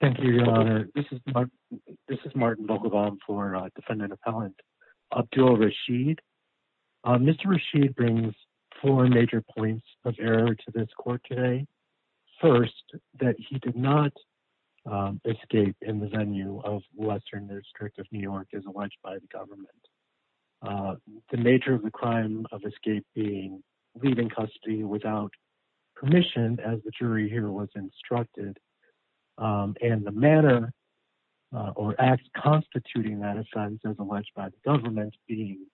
Thank you, Your Honor. This is Martin Vogelbaum for Defendant Appellant Abdul Rasheed. Mr. Rasheed brings four major points of error to this court today. First, that he did not escape in the venue of Western District of New York as alleged by the government. Second, the nature of the crime of escaping, leaving custody without permission as the jury here was instructed, and the manner or acts constituting that offense as alleged by the government being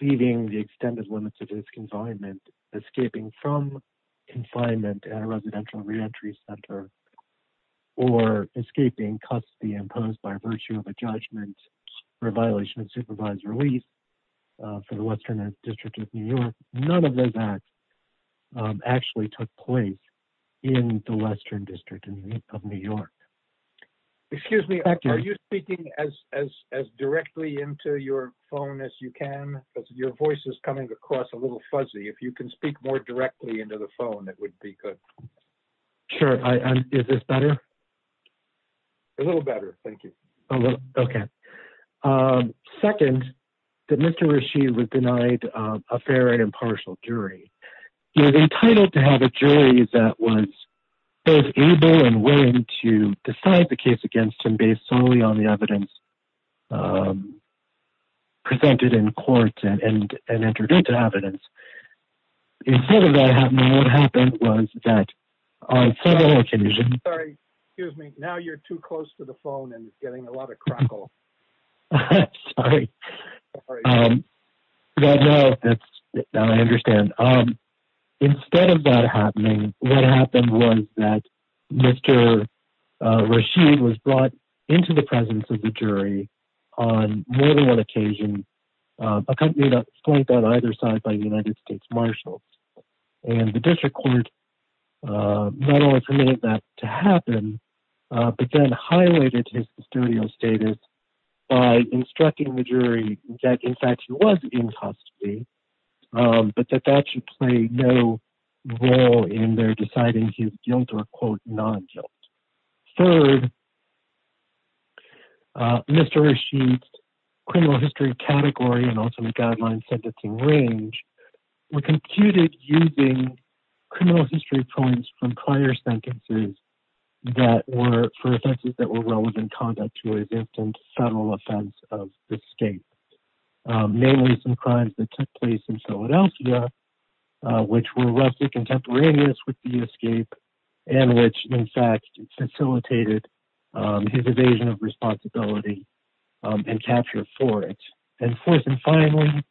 leaving the extended limits of his confinement, escaping from confinement at a residential reentry center, or escaping custody imposed by virtue of a judgment for a violation of supervised release for the Western District of New York. None of those acts actually took place in the Western District of New York. Excuse me, are you speaking as directly into your phone as you can? Because your voice is coming across a little fuzzy. If you can speak more directly into the phone, that would be good. Sure. Is this better? A little better. Thank you. Okay. Second, that Mr. Rasheed was denied a fair and impartial jury. He was entitled to have a jury that was both able and willing to decide the case against him based solely on the evidence presented in court and entered into evidence. Instead of that happening, what happened was that Mr. Rasheed was brought into the presence of the jury on more than one occasion, accompanied on either side by the United States Marshals, and the district court not only permitted that to happen, but then highlighted his custodial status by instructing the jury that, in fact, he was in custody, but that that should play no role in their deciding his guilt or, quote, non-guilt. Third, Mr. Rasheed's criminal history category and ultimate guideline sentencing range were computed using criminal history points from prior sentences that were for offenses that were relevant conduct to his infant federal offense of escape, namely some crimes that took place in Philadelphia, which were roughly contemporaneous with the escape and which, in fact, facilitated his evasion of responsibility and capture for it. And fourth and finally,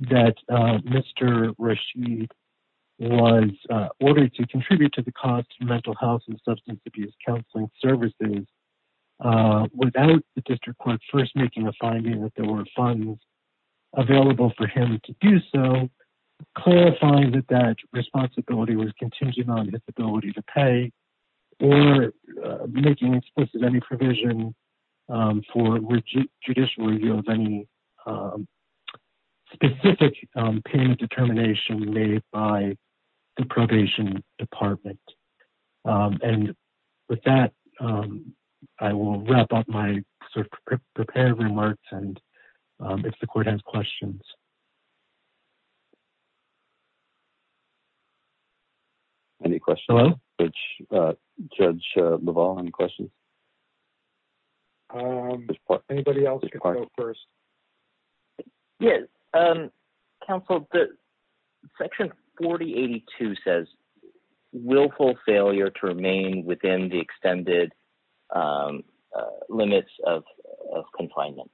that Mr. Rasheed was ordered to contribute to the cost of mental health and substance abuse counseling services without the district court first making a finding that there were funds available for him to do so, clarifying that that responsibility was contingent on his ability to pay or making explicit any provision for judicial review of any specific payment determination made by the probation department. And with that, I will wrap up my prepared remarks and if the court has questions. Any questions? Judge LaValle, any questions? Anybody else can go first. Yes, counsel, section 4082 says willful failure to remain within the extended limits of confinement.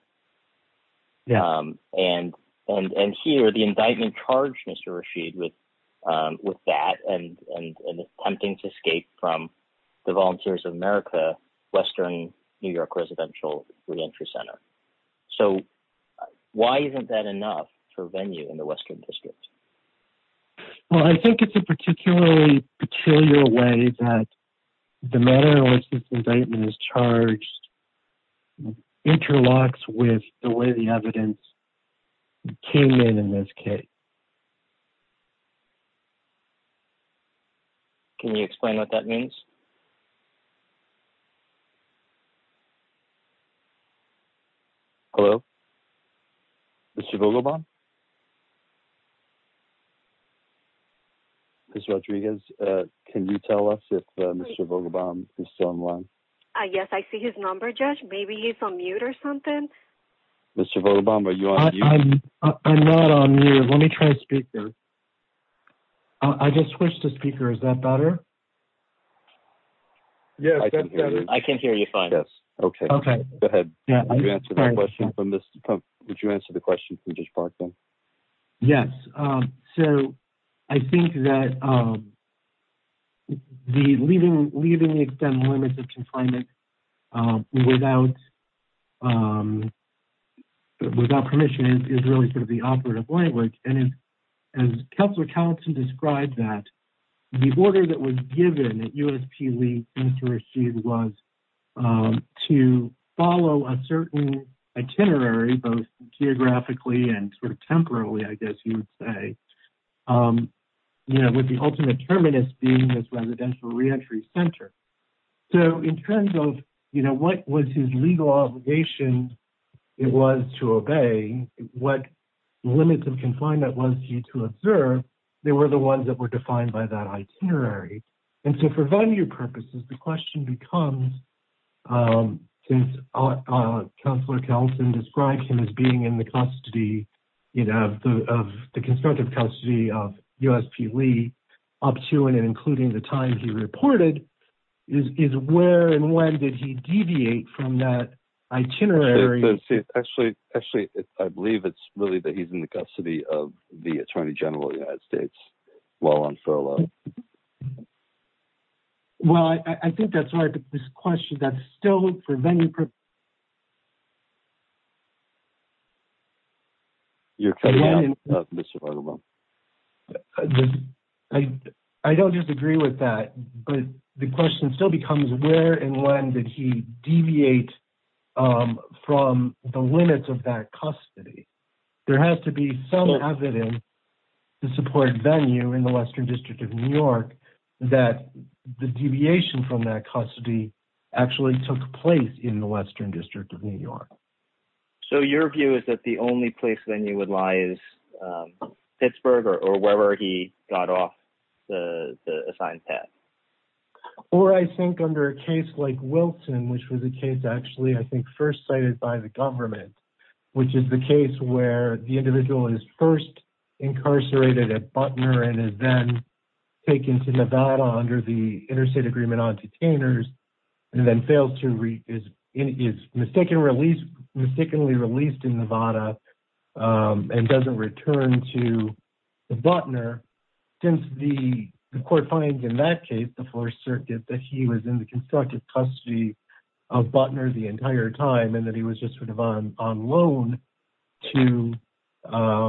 And here, the indictment charged Mr. Rasheed with that and attempting to Western New York residential reentry center. So why isn't that enough for venue in the Western district? Well, I think it's a particularly peculiar way that the manner in which this indictment is charged interlocks with the way the evidence came in in this case. Can you explain what that means? Hello, Mr. Vogelbaum? Ms. Rodriguez, can you tell us if Mr. Vogelbaum is still online? Yes, I see his number, Judge. Maybe he's on mute or something. Mr. Vogelbaum, are you on mute? I'm not on mute. Let me try a speaker. I just switched to speaker. Is that better? Yes, that's better. I can't hear you fine. Yes. Okay. Go ahead. Would you answer the question from Judge Parkin? Yes. So I think that leaving the extended limits of confinement without permission is really sort of the operative language. And as Councillor Callison described that, the order that was given that USP Lee and Mr. Rasheed was to follow a certain itinerary, both geographically and sort of temporarily, I guess you would say, with the ultimate terminus being this residential reentry center. So in terms of what was his legal obligation, it was to obey what limits of confinement was he to observe, they were the ones that were defined by that itinerary. And so for venue purposes, the question becomes, since Councillor Callison described him as being in the custody, you know, of the constructive custody of USP Lee up to and including the time he reported, is where and when did he deviate from that itinerary? Actually, I believe it's really that he's in the custody of the Attorney General of the United States while on furlough. Well, I think that's right. But this question, that's still for venue purposes. I don't disagree with that. But the question still becomes where and when did he deviate from the limits of that custody? There has to be some evidence to support venue in the Western District of New York, that the deviation from that custody actually took place in the Western District of New York. So your view is that the only place venue would lie is Pittsburgh or wherever he got off the assigned path. Or I think under a case like Wilson, which was a case actually, I think first cited by the government, which is the case where the individual is first incarcerated at Butner and is then taken to Nevada under the and doesn't return to Butner. Since the court finds in that case, the Fourth Circuit, that he was in the constructive custody of Butner the entire time, and that he was just sort of on loan to the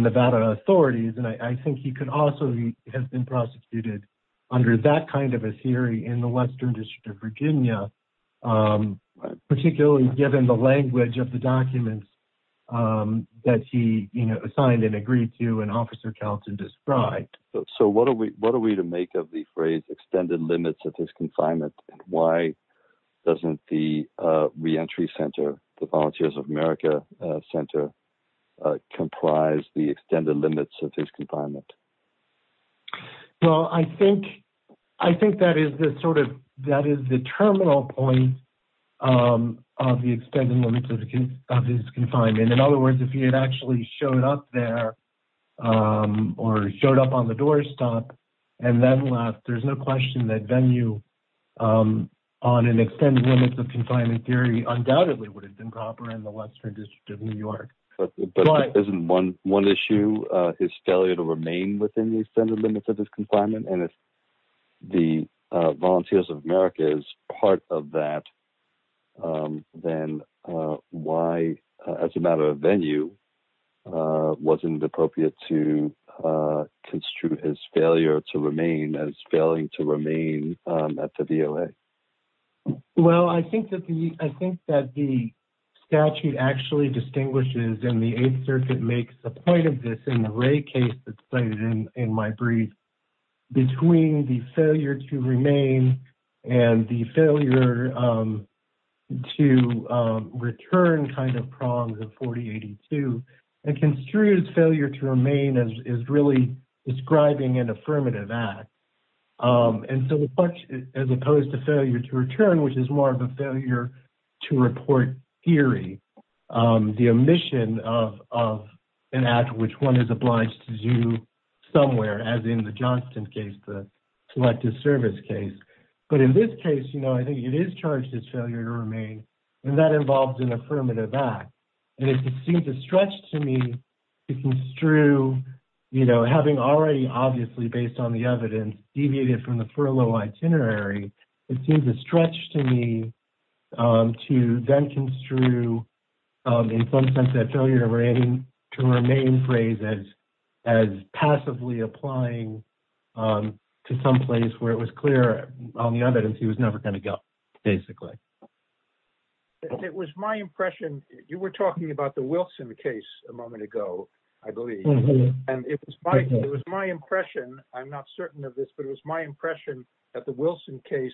Nevada authorities. And I think he could also have been prosecuted under that kind of a theory in the Western District of Virginia. Particularly given the language of the documents, um, that he, you know, assigned and agreed to an officer counts and described. So what are we what are we to make of the phrase extended limits of his confinement? Why doesn't the reentry center, the Volunteers of America Center, comprise the extended limits of his confinement? Well, I think, I think that is the sort of that is the terminal point of the extended limits of his confinement. In other words, if he had actually showed up there, or showed up on the doorstop, and then left, there's no question that venue on an extended limits of confinement theory, undoubtedly would have been proper in the Western District of New York. But isn't one one issue, his failure to remain within the extended limits of his confinement, and if the Volunteers of America is part of that, then why, as a matter of venue, wasn't it appropriate to construe his failure to remain as failing to remain at the DOA? Well, I think that the I think that the statute actually distinguishes in the between the failure to remain, and the failure to return kind of prongs of 4082, and construed failure to remain as really describing an affirmative act. And so as opposed to failure to return, which is more of a failure to report theory, the omission of an act which one is obliged to do somewhere as in the Johnson case, the Selective Service case. But in this case, you know, I think it is charged as failure to remain. And that involves an affirmative act. And it seems a stretch to me to construe, you know, having already obviously based on the evidence deviated from the furlough itinerary, it seems a stretch to me to then construe, in some sense, that failure to remain to remain phrase as, as passively applying to someplace where it was clear on the evidence, he was never going to go, basically. It was my impression, you were talking about the Wilson case a moment ago, I believe. And it was my it was my impression, I'm not certain of this, but it was my impression that the Wilson case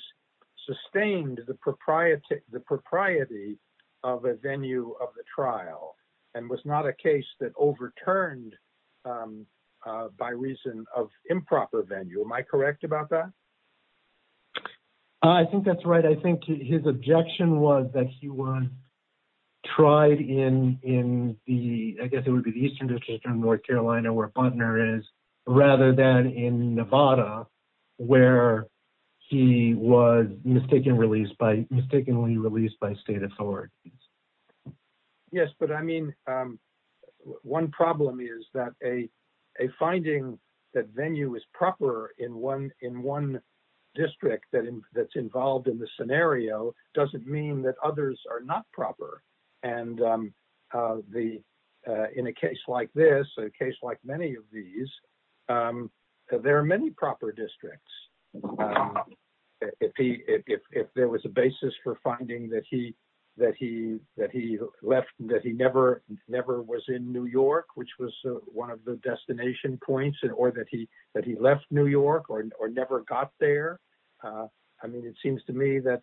sustained the proprietor, the propriety of a venue of the trial, and was not a case that overturned by reason of improper venue. Am I correct about that? I think that's right. I think his objection was that he was tried in in the I guess it would be North Carolina where partner is, rather than in Nevada, where he was mistaken released by mistakenly released by state authorities. Yes, but I mean, one problem is that a, a finding that venue is proper in one in one district that that's involved in the scenario doesn't mean that others are not proper. And the in a case like this, a case like many of these, there are many proper districts. If he if there was a basis for finding that he, that he that he left that he never, never was in New York, which was one of the destination points and or that he that he left New York or never got there. I mean, it seems to me that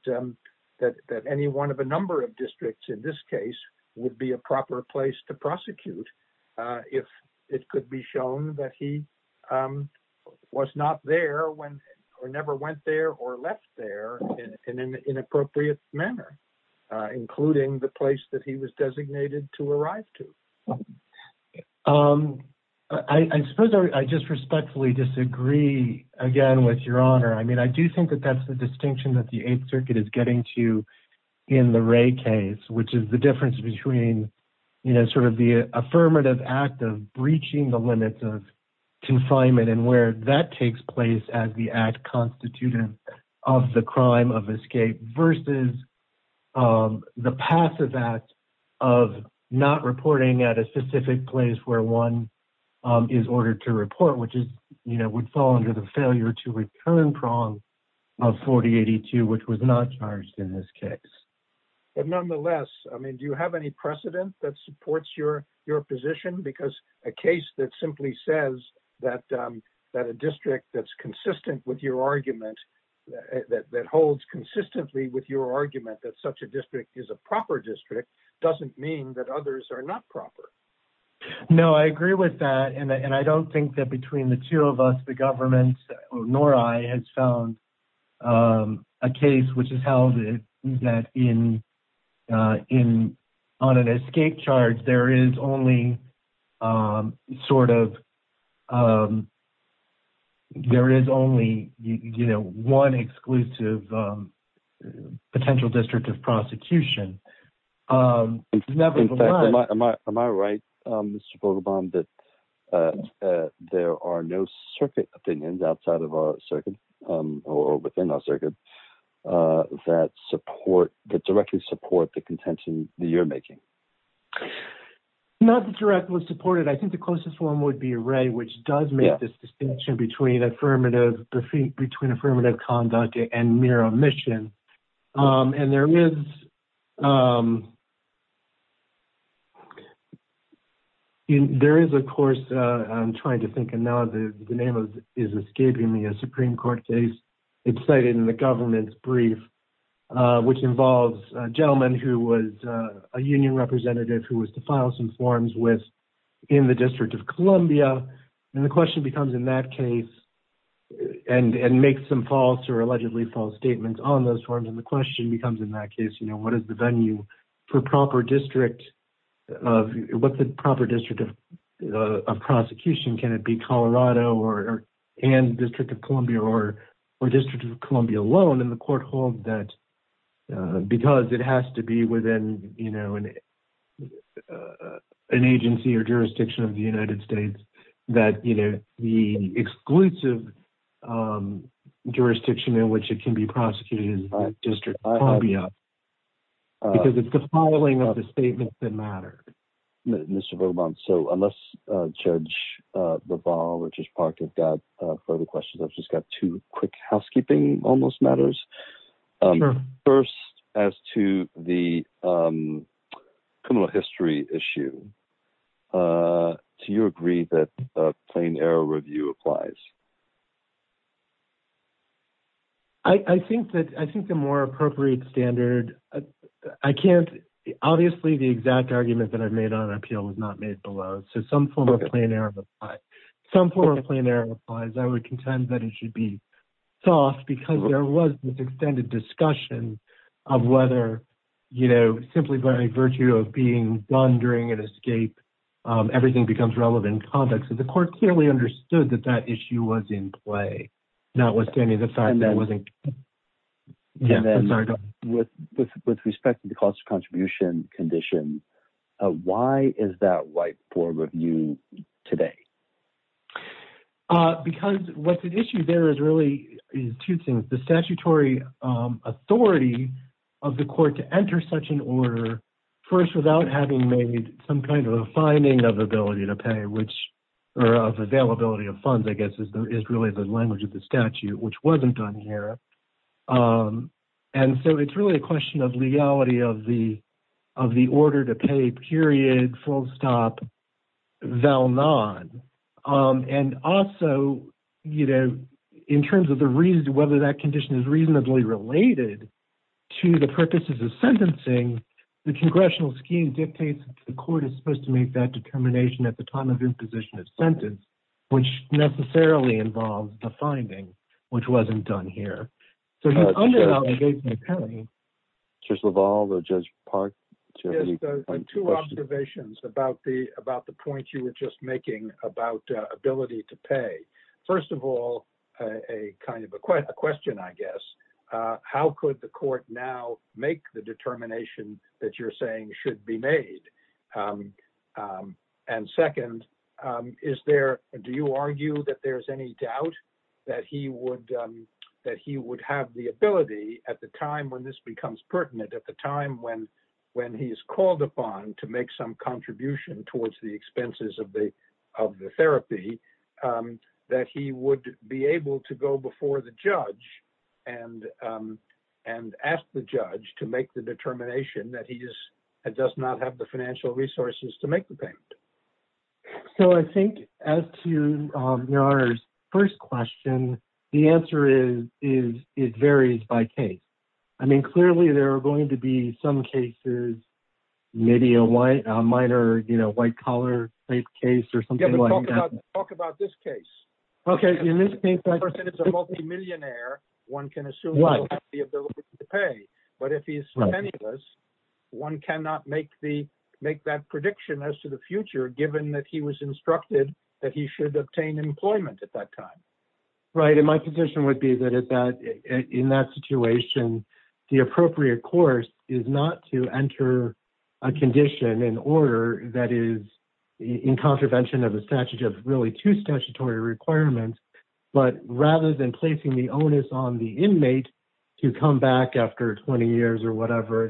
that any one of a number of districts in this case would be a proper place to prosecute. If it could be shown that he was not there when or never went there or left there in an inappropriate manner, including the place that he was designated to arrive to. I suppose I just respectfully disagree again with your honor. I mean, I do think that that's the distinction that the eighth circuit is getting to in the Ray case, which is the difference between, you know, sort of the affirmative act of breaching the limits of confinement and where that takes place as the act constituted of the crime of escape versus the passive act of not reporting at a specific place where one is ordered to report, which is, you know, would fall under the failure to return prong of 4082, which was not charged in this case. But nonetheless, I mean, do you have any precedent that supports your, your position? Because a case that simply says that that a district that's consistent with your argument that holds consistently with your argument that such a district is a proper district doesn't mean that others are not proper. No, I agree with that. And I don't think that between the two of us, the government nor I has found a case, which is held that in in on an escape charge, there is only sort of there is only, you know, one exclusive potential district of prosecution. In fact, am I, am I right, Mr. Bogoban, that there are no circuit opinions outside of our circuit or within our circuit that support that directly support the contention that you're making? Not directly supported. I think the closest one would be Ray, which does make this distinction between affirmative, between affirmative conduct and mere omission. And there is there is, of course, I'm trying to think and now the name of is escaping me a Supreme Court case excited in the government's brief, which involves a gentleman who was a union representative who was to file some forms with in the District of Columbia. And the question becomes in that case and make some false or allegedly false statements on those forms. And the question becomes in that case, you know, what is the venue for proper district of what's the proper district of prosecution? Can it be Colorado or, and District of Columbia or District of Columbia alone in the an agency or jurisdiction of the United States that, you know, the exclusive jurisdiction in which it can be prosecuted in District of Columbia, because it's the filing of the statements that matter. Mr. Bogoban, so unless Judge Bavar or Judge Park have got further questions, I've just got two quick housekeeping almost matters. First, as to the criminal history issue, do you agree that plain error review applies? I think that I think the more appropriate standard, I can't, obviously, the exact argument that I've made on appeal was not made below. So some form of plain error, some form of plain error applies. I would contend that it should be soft because there was this extended discussion of whether, you know, simply by virtue of being done during an escape, everything becomes relevant in context. So the court clearly understood that that issue was in play, notwithstanding the fact that it wasn't. With respect to the cost of contribution condition, why is that white today? Because what's at issue there is really two things. The statutory authority of the court to enter such an order, first, without having made some kind of a finding of ability to pay, which are of availability of funds, I guess, is really the language of the statute, which wasn't done here. And so it's really a question of legality of the of the order to pay period, full stop, val non. And also, you know, in terms of the reason whether that condition is reasonably related to the purposes of sentencing, the congressional scheme dictates the court is supposed to make that determination at the time of imposition of sentence, which necessarily involves the finding, which wasn't done here. So he's under the law. I just love all the judge part two observations about the about the point you were just making about ability to pay. First of all, a kind of a question, I guess, how could the court now make the determination that you're saying should be made? And second, is there do you argue that there's any doubt that he would that he would have the ability at the time when this becomes pertinent at the time when when he is called upon to make some contribution towards the expenses of the of the therapy that he would be able to go before the judge and and ask the judge to make the determination that he just does not have the financial resources to make the payment? So I think as to your first question, the answer is, is it varies by case? I mean, clearly, there are going to be some cases, maybe a white, a minor, you know, white collar case, or something like that. Talk about this case. Okay, in this case, it's a multimillionaire, one can assume the ability to pay. But if he's penniless, one cannot make the make that prediction as to the future, given that he was instructed that he should obtain employment at that time. Right. And my position would be that is that in that situation, the appropriate course is not to enter a condition in order that is in contravention of the statute of really two statutory requirements. But rather than placing the onus on the inmate to come back after 20 years or whatever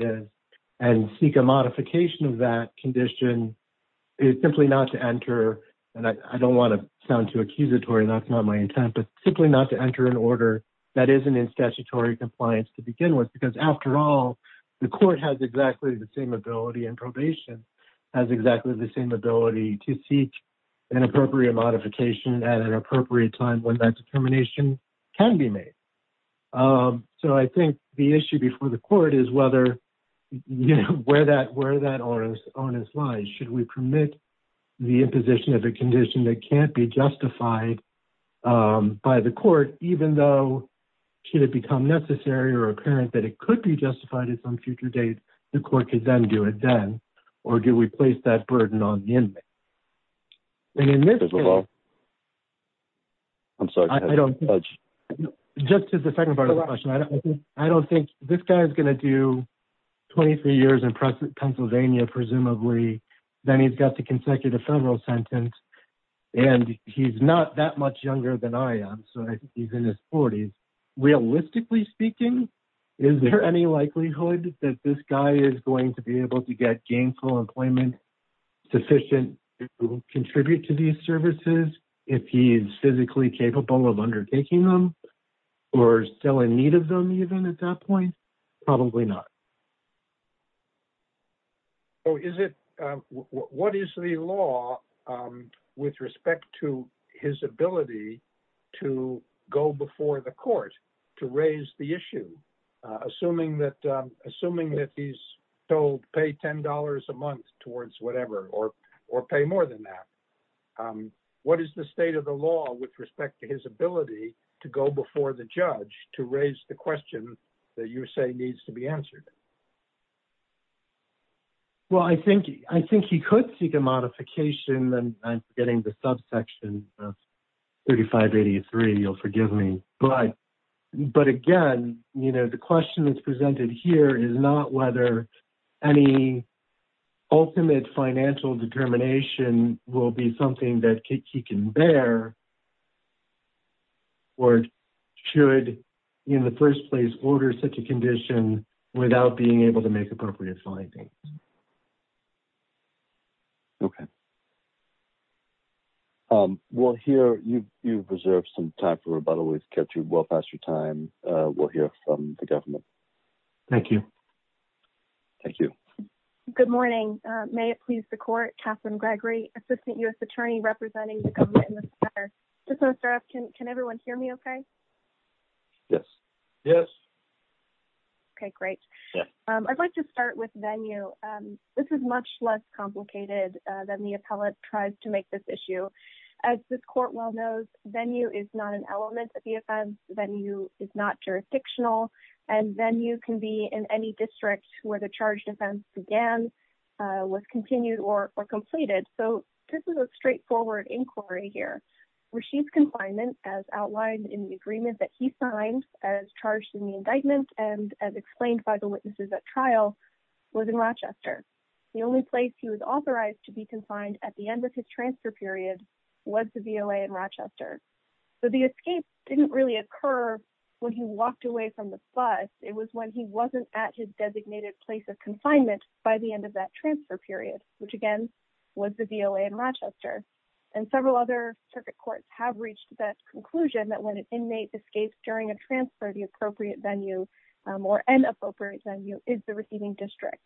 and seek a modification of that condition is simply not to enter. And I don't want to sound too accusatory. And that's not my intent, but simply not to enter an order that isn't in statutory compliance to begin with, because after all, the court has exactly the same ability and probation has exactly the same ability to seek an appropriate modification at an appropriate time that determination can be made. So I think the issue before the court is whether where that onus lies, should we permit the imposition of a condition that can't be justified by the court, even though should it become necessary or apparent that it could be justified at some future date, the court could then do it then? Or do we place that burden on the inmate? And in this case, I'm sorry, I don't judge just to the second part of the question. I don't think this guy is going to do 23 years in Pennsylvania, presumably, then he's got the consecutive federal sentence. And he's not that much younger than I am. So he's in his 40s. Realistically speaking, is there any likelihood that this guy is going to be able to get gainful employment, sufficient to contribute to these services, if he's physically capable of undertaking them, or still in need of them even at that point? Probably not. Oh, is it? What is the law with respect to his ability to go before the court to raise the issue? Assuming that he's told pay $10 a month towards whatever or, or pay more than that? What is the state of the law with respect to his ability to go before the judge to raise the question that you say needs to be answered? Well, I think I think he could seek a modification and I'm forgetting the subsection of 3583, you'll forgive me. But, but again, you know, the question that's presented here is not whether any ultimate financial determination will be something that he can bear. Or should, in the first place order such a condition without being able to make appropriate findings. Okay. We'll hear you. You've reserved some time for rebuttal. We've kept you well past your time. We'll hear from the government. Thank you. Thank you. Good morning. May it please the court Catherine Gregory, Assistant US Attorney representing the government in this matter. Can, can everyone hear me? Okay. Yes. Yes. Okay, great. I'd like to start with venue. This is much less complicated than the appellate tries to make this issue. As this court well knows venue is not an element of the offense venue is not jurisdictional. And then you can be in any district where the charge defense began, was continued or completed. So this is a straightforward inquiry here, where she's confinement as outlined in the agreement that he signed as charged in the indictment. And as explained by the witnesses at trial was in Rochester. The only place he was authorized to be confined at the end of his transfer period was the VLA in Rochester. So the escape didn't really occur when he walked away from the bus. It was when he wasn't at his designated place of confinement by the end of that transfer period, which again, was the VLA in Rochester. And several other circuit courts have reached that conclusion that when an inmate escapes during a transfer, the appropriate venue or an appropriate venue is the receiving district.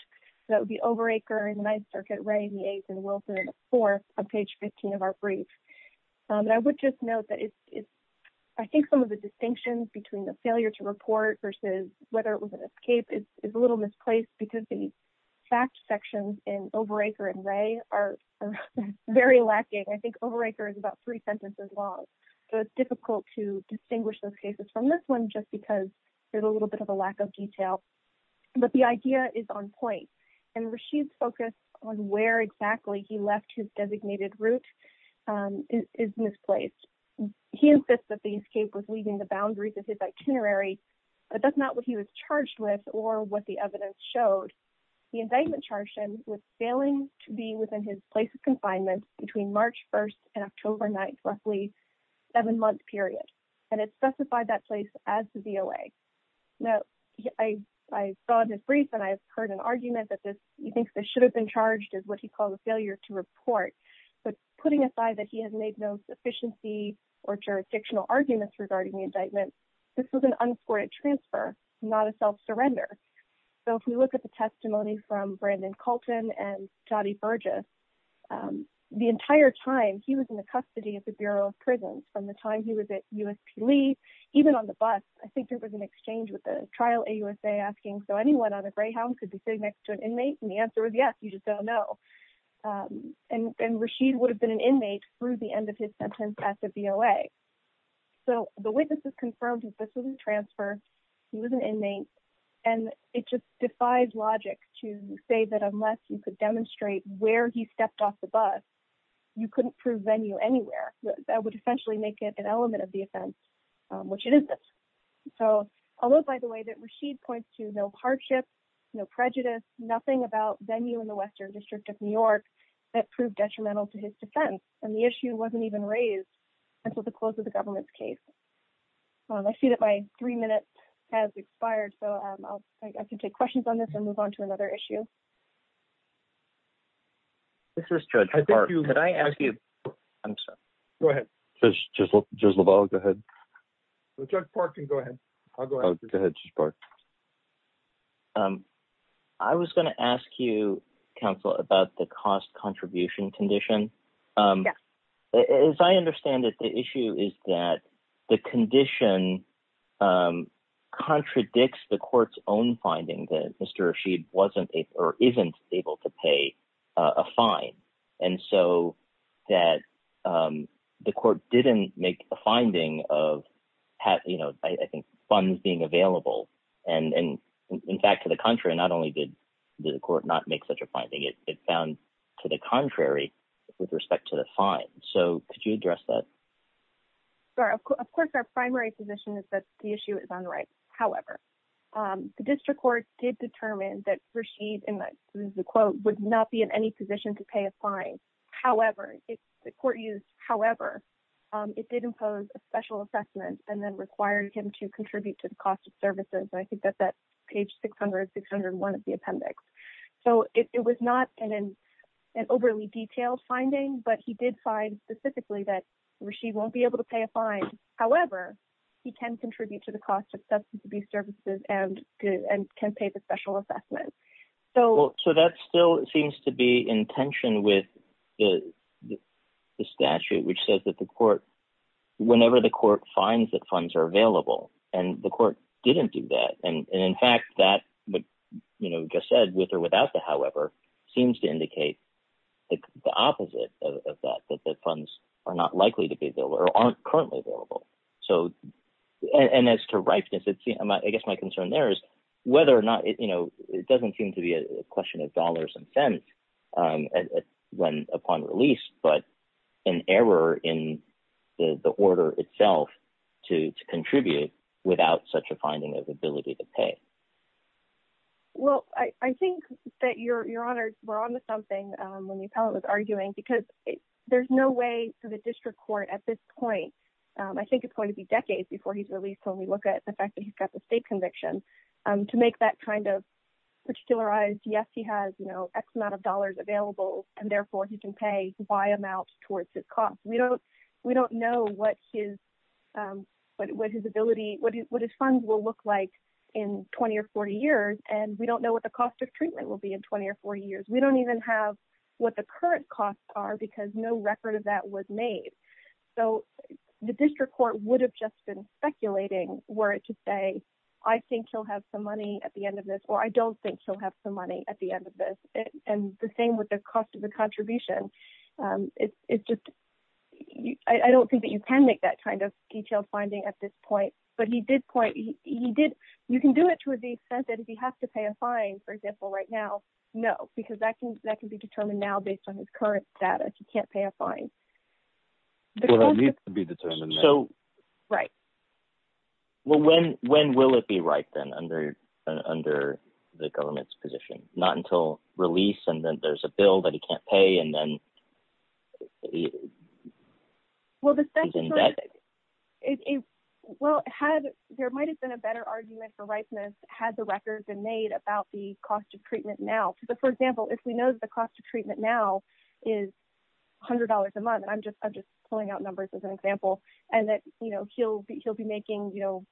So the overachiever in the ninth circuit, Ray, the eighth and Wilson, the fourth of page 15 of our brief. And I would just note that it's, it's, I think some of the distinctions between the failure to report versus whether it was an escape is a little misplaced because the fact sections in overachiever and Ray are very lacking. I think overachiever is about three sentences long. So it's difficult to distinguish those cases from this one, just because there's a little bit of a lack of detail, but the idea is on point and Rasheed's focus on where exactly he left his designated route is misplaced. He insists that the escape was leaving the boundaries of his itinerary, but that's not what he was charged with or what the evidence showed. The indictment charged him with failing to be within his place of confinement between March 1st and October 9th, roughly seven month period. And it specified that place as the VOA. Now I, I saw this brief and I've heard an argument that this, he thinks this should have been charged as what he calls a failure to report, but putting aside that he has made no sufficiency or jurisdictional arguments regarding the indictment, this was an unscored transfer, not a self-surrender. So if we look at the testimony from Brandon Colton and Jody Burgess, the entire time he was in the custody of the Bureau of Prisons from the time he was at USP Lee, even on the bus, I think there was an exchange with the trial AUSA asking, so anyone on a Greyhound could be sitting next to an inmate? And the answer was, yes, you just don't know. And, and Rasheed would have been an inmate through the end of his sentence at the VOA. So the witnesses confirmed that this was a transfer, he was an inmate, and it just defies logic to say that unless you could demonstrate where he stepped off the bus, you couldn't prove venue anywhere. That would essentially make it an element of the offense, which it isn't. So I'll note by the way that Rasheed points to no hardship, no prejudice, nothing about venue in the Western District of New York that proved detrimental to his defense. And the issue wasn't even raised until the close of the government's case. I see that my three minutes has expired. So I can take questions on this and move on to another issue. This is Judge Park. Could I ask you, I'm sorry. Go ahead. Judge LaValle, go ahead. Judge Park can go ahead. I'll go ahead. Go ahead, Judge Park. I was going to ask you, counsel, about the cost-contribution condition. Yes. As I understand it, the issue is that the condition contradicts the court's own finding, that Mr. Rasheed wasn't or isn't able to pay a fine. And so that the court didn't make a finding of, I think, funds being available. And in fact, to the contrary, not only did the court not make such a finding, it found to the contrary with respect to the fine. So could you address that? Sure. Of course, our primary position is that the issue is on the right. However, the district court did determine that Rasheed, and this is a quote, would not be in any position to pay a fine. However, the court used however. It did impose a special assessment and then required him to contribute to the cost of services. And I think that that's page 600, 601 of the appendix. So it was not an overly detailed finding, but he did find specifically that Rasheed won't be able to pay a fine. However, he can contribute to the cost of substance abuse services and can pay the special assessment. So that still seems to be in tension with the statute, which says that the court, whenever the court finds that funds are available, and the court didn't do that. And in fact, that would, you know, just said with or without the however, seems to indicate the opposite of that, that the funds are not likely to be available or aren't currently available. So, and as to seem to be a question of dollars and cents when upon release, but an error in the order itself to contribute without such a finding of ability to pay. Well, I think that you're, you're honored. We're on to something when the appellate was arguing, because there's no way for the district court at this point, I think it's going to be decades before he's released. When we look at the fact that he's got the state conviction to make that kind of particularized, yes, he has, you know, X amount of dollars available, and therefore he can pay by amount towards his costs. We don't, we don't know what his, what his ability, what his funds will look like in 20 or 40 years. And we don't know what the cost of treatment will be in 20 or 40 years. We don't even have what the current costs are, because no record of that was made. So the district court would have just been speculating were it to say, I think he'll have some money at the end of this, or I don't think he'll have some money at the end of this. And the thing with the cost of the contribution, it's just, I don't think that you can make that kind of detailed finding at this point, but he did point, he did, you can do it to the extent that if you have to pay a fine, for example, right now, no, because that can, that can be determined now based on his current status. You can't pay a fine. Well, that needs to be determined. So, right. Well, when, when will it be right then under, under the government's position, not until release and then there's a bill that he can't pay and then... Well, the statute, well, had, there might've been a better argument for ripeness had the record been made about the cost of treatment now. But for example, if we know that the cost treatment now is a hundred dollars a month, and I'm just, I'm just pulling out numbers as an example and that, you know, he'll be, he'll be making, you know,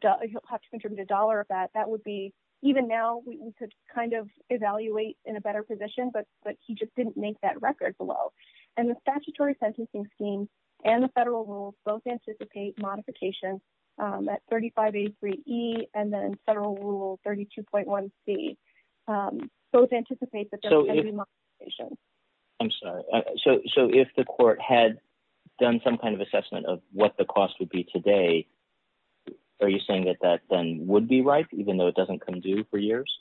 he'll have to contribute a dollar of that. That would be, even now we could kind of evaluate in a better position, but, but he just didn't make that record below. And the statutory sentencing scheme and the federal rules both anticipate modification at 3583E and then federal rule 32.1C. Both anticipate that there would be modification. I'm sorry. So, so if the court had done some kind of assessment of what the cost would be today, are you saying that that then would be right, even though it doesn't come due for years?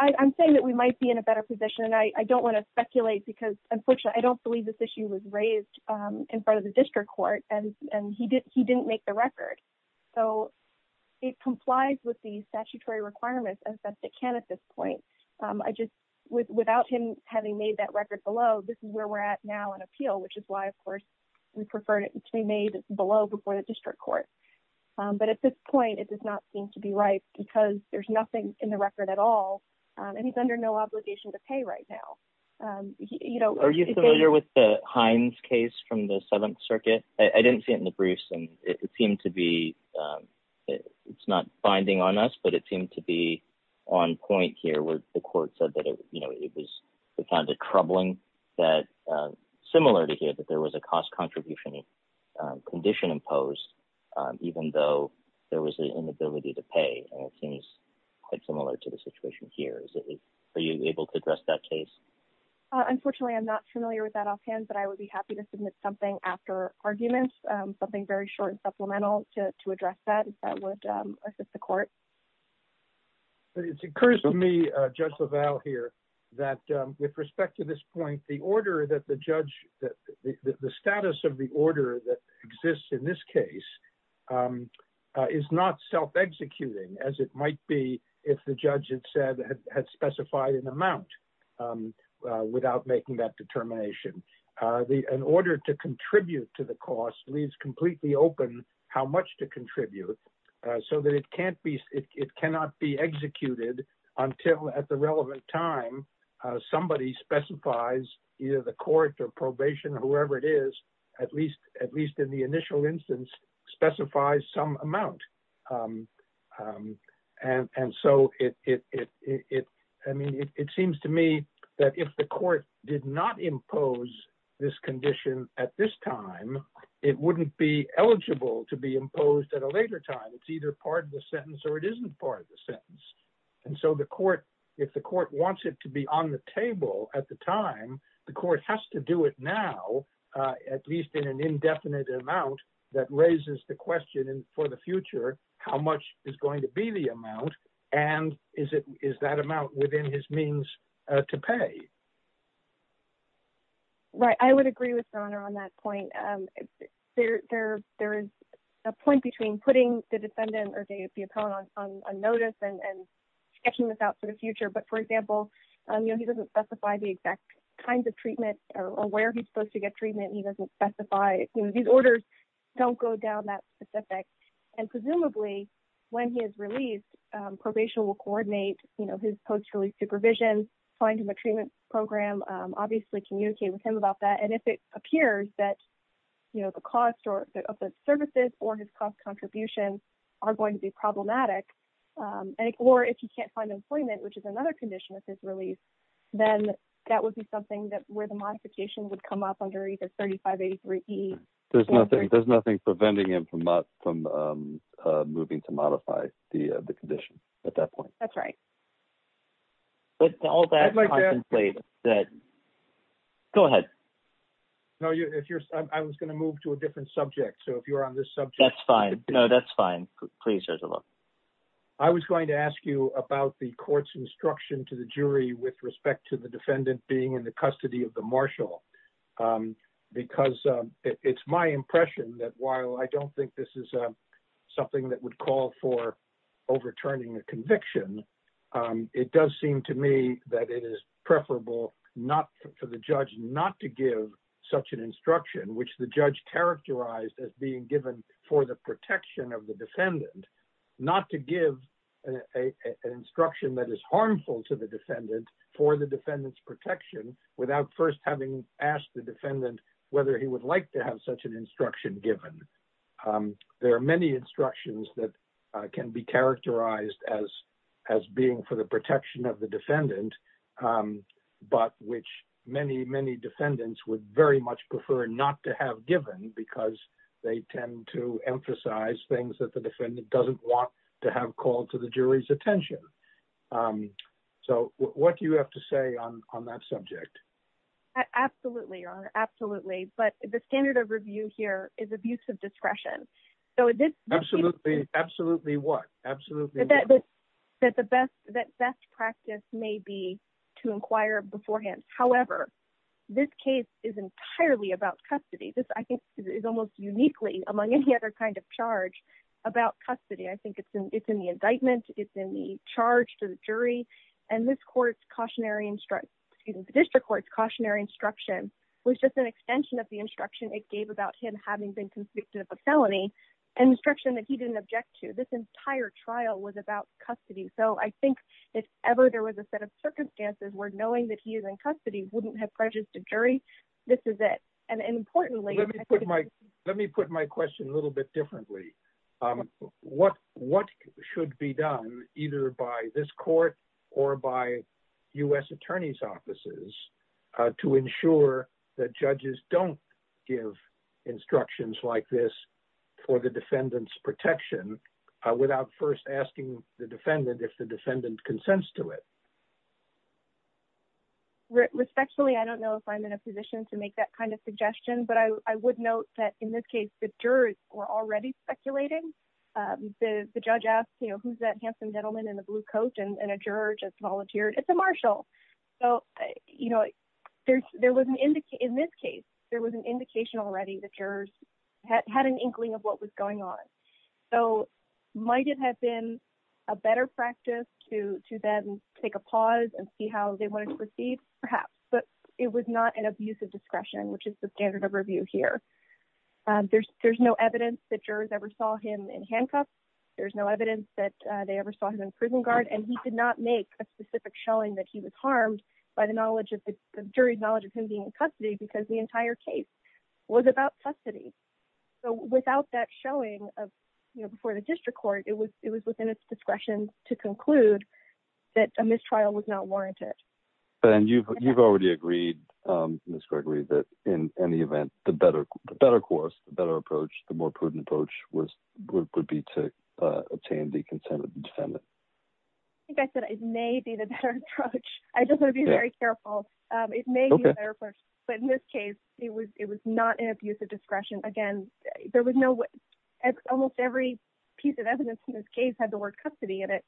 I'm saying that we might be in a better position and I don't want to speculate because unfortunately, I don't believe this issue was raised in front of the district court and he did, he didn't make the record. So it complies with the statutory requirements as best it can at this point. I just, without him having made that record below, this is where we're at now on appeal, which is why of course we prefer it to be made below before the district court. But at this point it does not seem to be right because there's nothing in the record at all and he's under no obligation to pay right now. You know, Are you familiar with the Hines case from the Seventh Circuit? I didn't see it in the briefs and it seemed to be, it's not binding on us, but it seemed to be on point here where the court said that it, you know, it was, we found it troubling that similar to here that there was a cost contribution condition imposed even though there was an inability to pay. And it seems quite similar to the situation here. Is it, are you able to address that case? Unfortunately, I'm not familiar with that offhand, but I would be happy to submit something after arguments, something very short and supplemental to address that if that would assist the court. It occurs to me, Judge LaValle here, that with respect to this point, the order that the judge, that the status of the order that exists in this case is not self-executing as it might be if the judge had said, had specified an amount without making that determination. The, an order to contribute to the cost leaves completely open how much to contribute so that it can't be, it cannot be executed until at the relevant time somebody specifies either the court or probation or whoever it is, at least, at least in the initial instance, specifies some amount. And so it, I mean, it seems to me that if the court did not impose this condition at this time, it wouldn't be eligible to be imposed at a later time. It's either part of the sentence or it isn't part of the sentence. And so the court, if the court wants it to be on the table at the time, the court has to do it now, at least in an indefinite amount that raises the question for the future, how much is going to be the amount and is it, is that amount within his means to pay? Right. I would agree with your honor on that point. There, there, there is a point between putting the defendant or the appellant on notice and sketching this out for the future. But for 3583E. There's nothing, there's nothing preventing him from not, from moving to modify the condition at that point. That's right. Go ahead. No, you, if you're, I was going to move to a different subject. So if you're on this subject. That's fine. No, that's fine. Please judge alone. I was going to ask you about the court's instruction to the jury with respect to the because it's my impression that while I don't think this is something that would call for overturning a conviction. It does seem to me that it is preferable, not for the judge, not to give such an instruction, which the judge characterized as being given for the protection of the defendant, not to give an instruction that is harmful to the defendant for the defendant's whether he would like to have such an instruction given. There are many instructions that can be characterized as, as being for the protection of the defendant. But which many, many defendants would very much prefer not to have given because they tend to emphasize things that the defendant doesn't want to have called to the jury's attention. So what do you have to say on that subject? Absolutely, Your Honor. Absolutely. But the standard of review here is abuse of discretion. So this Absolutely, absolutely. What absolutely that the best that best practice may be to inquire beforehand. However, this case is entirely about custody. This I think is almost uniquely among any other kind of charge about custody. I think it's in it's in the indictment, it's in the charge to the jury. And this court's cautionary district court's cautionary instruction was just an extension of the instruction it gave about him having been convicted of a felony and instruction that he didn't object to this entire trial was about custody. So I think if ever there was a set of circumstances where knowing that he is in custody wouldn't have prejudice to jury, this is it. And importantly, let me put my let me put my to ensure that judges don't give instructions like this, for the defendant's protection, without first asking the defendant if the defendant consents to it. Respectfully, I don't know if I'm in a position to make that kind of suggestion. But I would note that in this case, the jurors were already speculating. The judge asked, you know, who's that handsome gentleman in the blue coat and a juror just volunteered, it's a marshal. So, you know, there's there was an indicate in this case, there was an indication already that jurors had an inkling of what was going on. So might it have been a better practice to to then take a pause and see how they wanted to proceed, perhaps, but it was not an abuse of discretion, which is the standard of review here. There's there's no evidence that jurors ever saw him in handcuffs. There's no evidence that they ever saw him in prison guard. And he did not make a specific showing that he was harmed by the knowledge of the jury knowledge of him being in custody, because the entire case was about custody. So without that showing of, you know, before the district court, it was it was within its discretion to conclude that a mistrial was not warranted. And you've you've already agreed, Miss Gregory, that in any event, the better, better course, the better approach, the more prudent approach was would be to obtain the consent of the defendant. I think I said it may be the better approach. I just want to be very careful. It may be a better approach. But in this case, it was it was not an abuse of discretion. Again, there was no way almost every piece of evidence in this case had the word custody in it.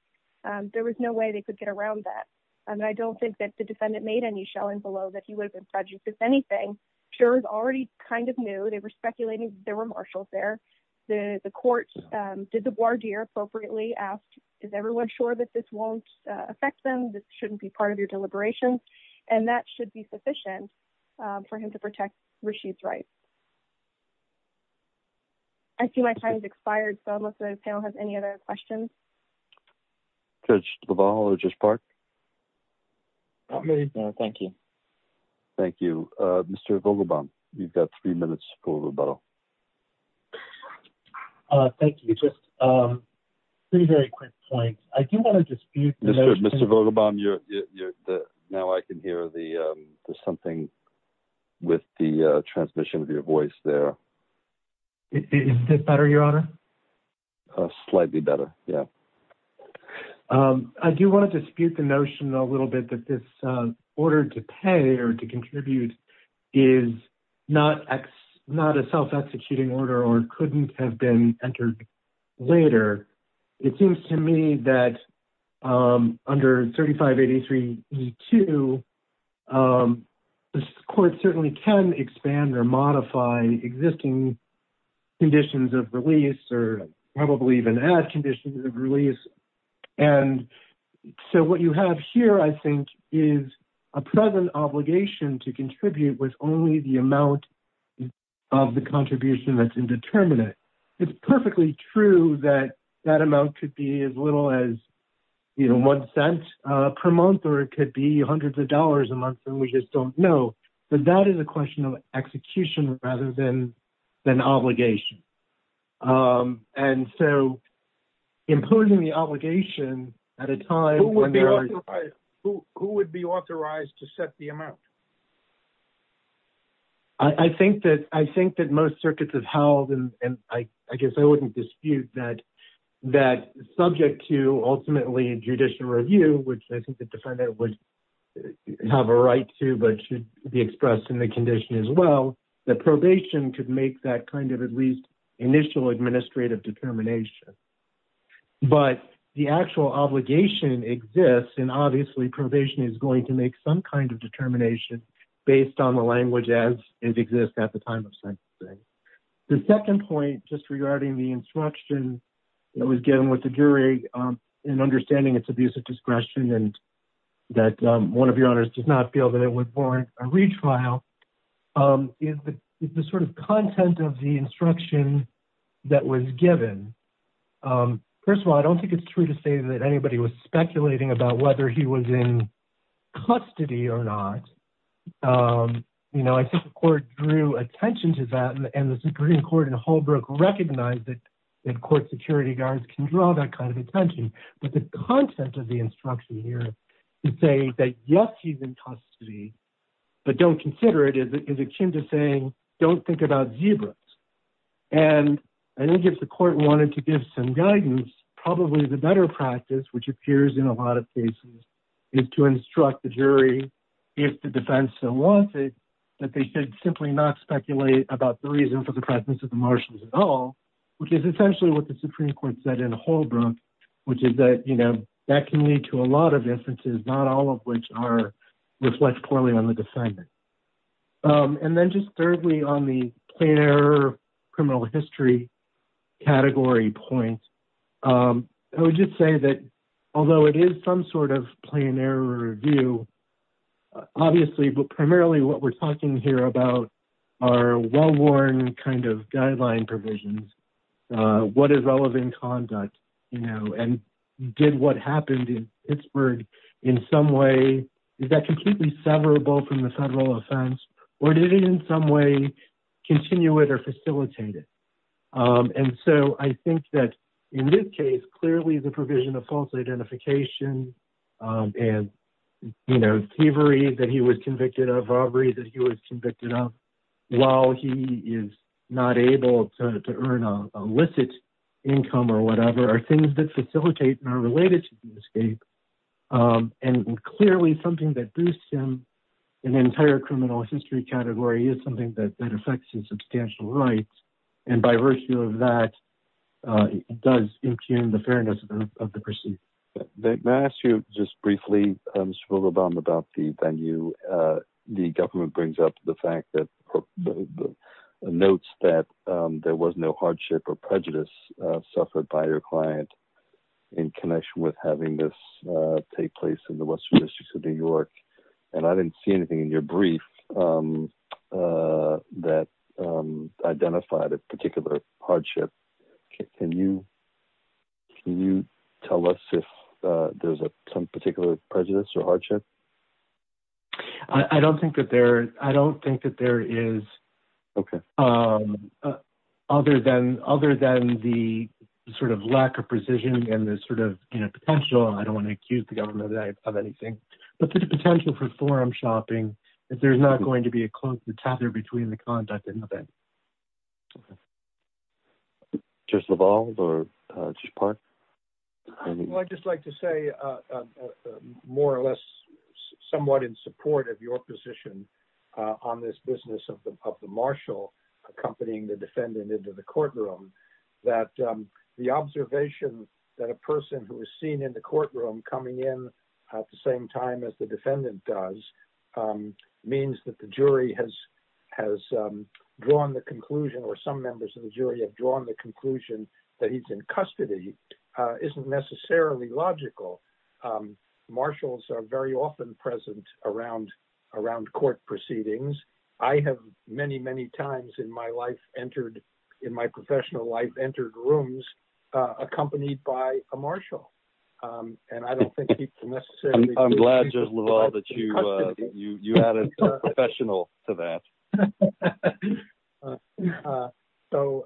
There was no way they could get around that. And I don't think that the defendant made any below that he was prejudiced. Anything sure is already kind of new. They were speculating there were marshals there. The court did the ward here appropriately asked, is everyone sure that this won't affect them? This shouldn't be part of your deliberation. And that should be sufficient for him to protect Rashid's right. I see my time has expired. So unless the panel has any other questions. Judge, the ball or just part. Thank you. Thank you, Mr. Vogelbaum. You've got three minutes for rebuttal. Thank you. Just three very quick points. I do want to dispute Mr. Vogelbaum. Now I can hear the something with the transmission of your voice there. Is this better, your honor? Slightly better. Yeah. I do want to dispute the notion a little bit that this order to pay or to contribute is not not a self-executing order or couldn't have been entered later. It seems to me that under 3583-2, the court certainly can expand or modify existing conditions of release or probably even add conditions of release. And so what you have here, I think, is a present obligation to contribute with only the amount of the contribution that's indeterminate. It's perfectly true that that amount could be as little as, you know, one cent per month, or it could be hundreds of dollars a month. And we just don't know. But that is a question of execution rather than an obligation. And so imposing the obligation at a time. Who would be authorized to set the amount? I think that I think that most circuits have held, and I guess I wouldn't dispute that, that subject to ultimately a judicial review, which I think the defendant would have a right to, but should be expressed in the condition as well, that probation could make that kind of at least initial administrative determination. But the actual obligation exists, and obviously probation is going to make some kind of based on the language as it exists at the time of sentencing. The second point, just regarding the instruction that was given with the jury, in understanding its abuse of discretion, and that one of your honors does not feel that it would warrant a retrial, is the sort of content of the instruction that was given. First of all, I don't think it's true to say that anybody was speculating about whether he was in custody. You know, I think the court drew attention to that, and the Supreme Court in Holbrook recognized that court security guards can draw that kind of attention. But the content of the instruction here is saying that, yes, he's in custody, but don't consider it as akin to saying, don't think about zebras. And I think if the court wanted to give some guidance, probably the better practice, which appears in a lot of cases, is to instruct the jury, if the defense still wants it, that they should simply not speculate about the reason for the presence of the Marshals at all, which is essentially what the Supreme Court said in Holbrook, which is that, you know, that can lead to a lot of inferences, not all of which reflect poorly on the defendant. And then just thirdly, on the plain error review, obviously, but primarily what we're talking here about are well-worn kind of guideline provisions. What is relevant conduct, you know, and did what happened in Pittsburgh in some way, is that completely severable from the federal offense, or did it in some way continue it or facilitate it? And so I think that in this case, clearly the provision of you know, thievery that he was convicted of, robbery that he was convicted of, while he is not able to earn a licit income or whatever, are things that facilitate and are related to the escape. And clearly something that boosts him in the entire criminal history category is something that affects his substantial rights. And by virtue of that, it does impugn the fairness of the proceedings. May I ask you just briefly, Mr. Vogelbaum, about the venue. The government brings up the fact that, notes that there was no hardship or prejudice suffered by your client in connection with having this take place in the Western Districts of New York. And I didn't see anything in your brief that identified a particular hardship. Can you tell us if there's some particular prejudice or hardship? I don't think that there is, other than the sort of lack of precision and the sort of, you know, potential, I don't want to accuse the government of anything, but the potential for forum shopping, if there's not going to be a close tether between the conduct and the event. Justice LaValle or Justice Park? Well, I'd just like to say, more or less, somewhat in support of your position on this business of the marshal accompanying the defendant into the courtroom, that the observation that a person who is seen in the courtroom coming in at the same time as the has drawn the conclusion or some members of the jury have drawn the conclusion that he's in custody isn't necessarily logical. Marshals are very often present around court proceedings. I have many, many times in my life entered, in my professional life, entered rooms accompanied by a marshal. And I don't think people necessarily... I'm glad, Justice LaValle, that you added professional to that. So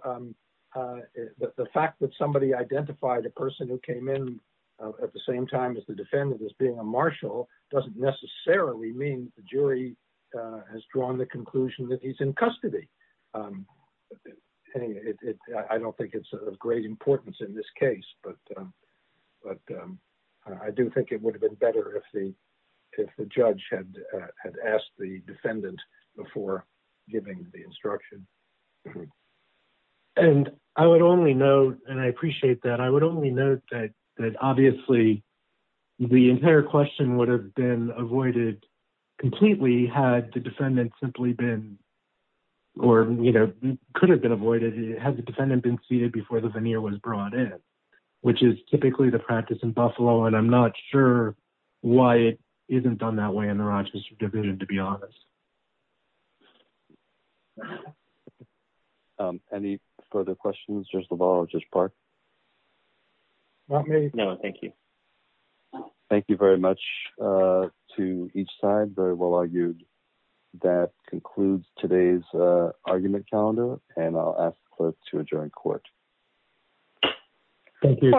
the fact that somebody identified a person who came in at the same time as the defendant as being a marshal doesn't necessarily mean the jury has drawn the conclusion that he's in custody. I don't think it's of great importance in this case, but I do think it would have been better if the judge had asked the defendant before giving the instruction. And I would only note, and I appreciate that, I would only note that obviously the entire question would have been avoided completely had the defendant simply been, or could have been avoided, had the defendant been seated before the veneer was brought in, which is typically the practice in Buffalo. And I'm not sure why it isn't done that way in the Rochester division, to be honest. Any further questions, Justice LaValle or Justice Park? Not me. No, thank you. Thank you very much to each side. Very well argued. That concludes today's argument calendar, and I'll ask the clerk to adjourn court. Thank you.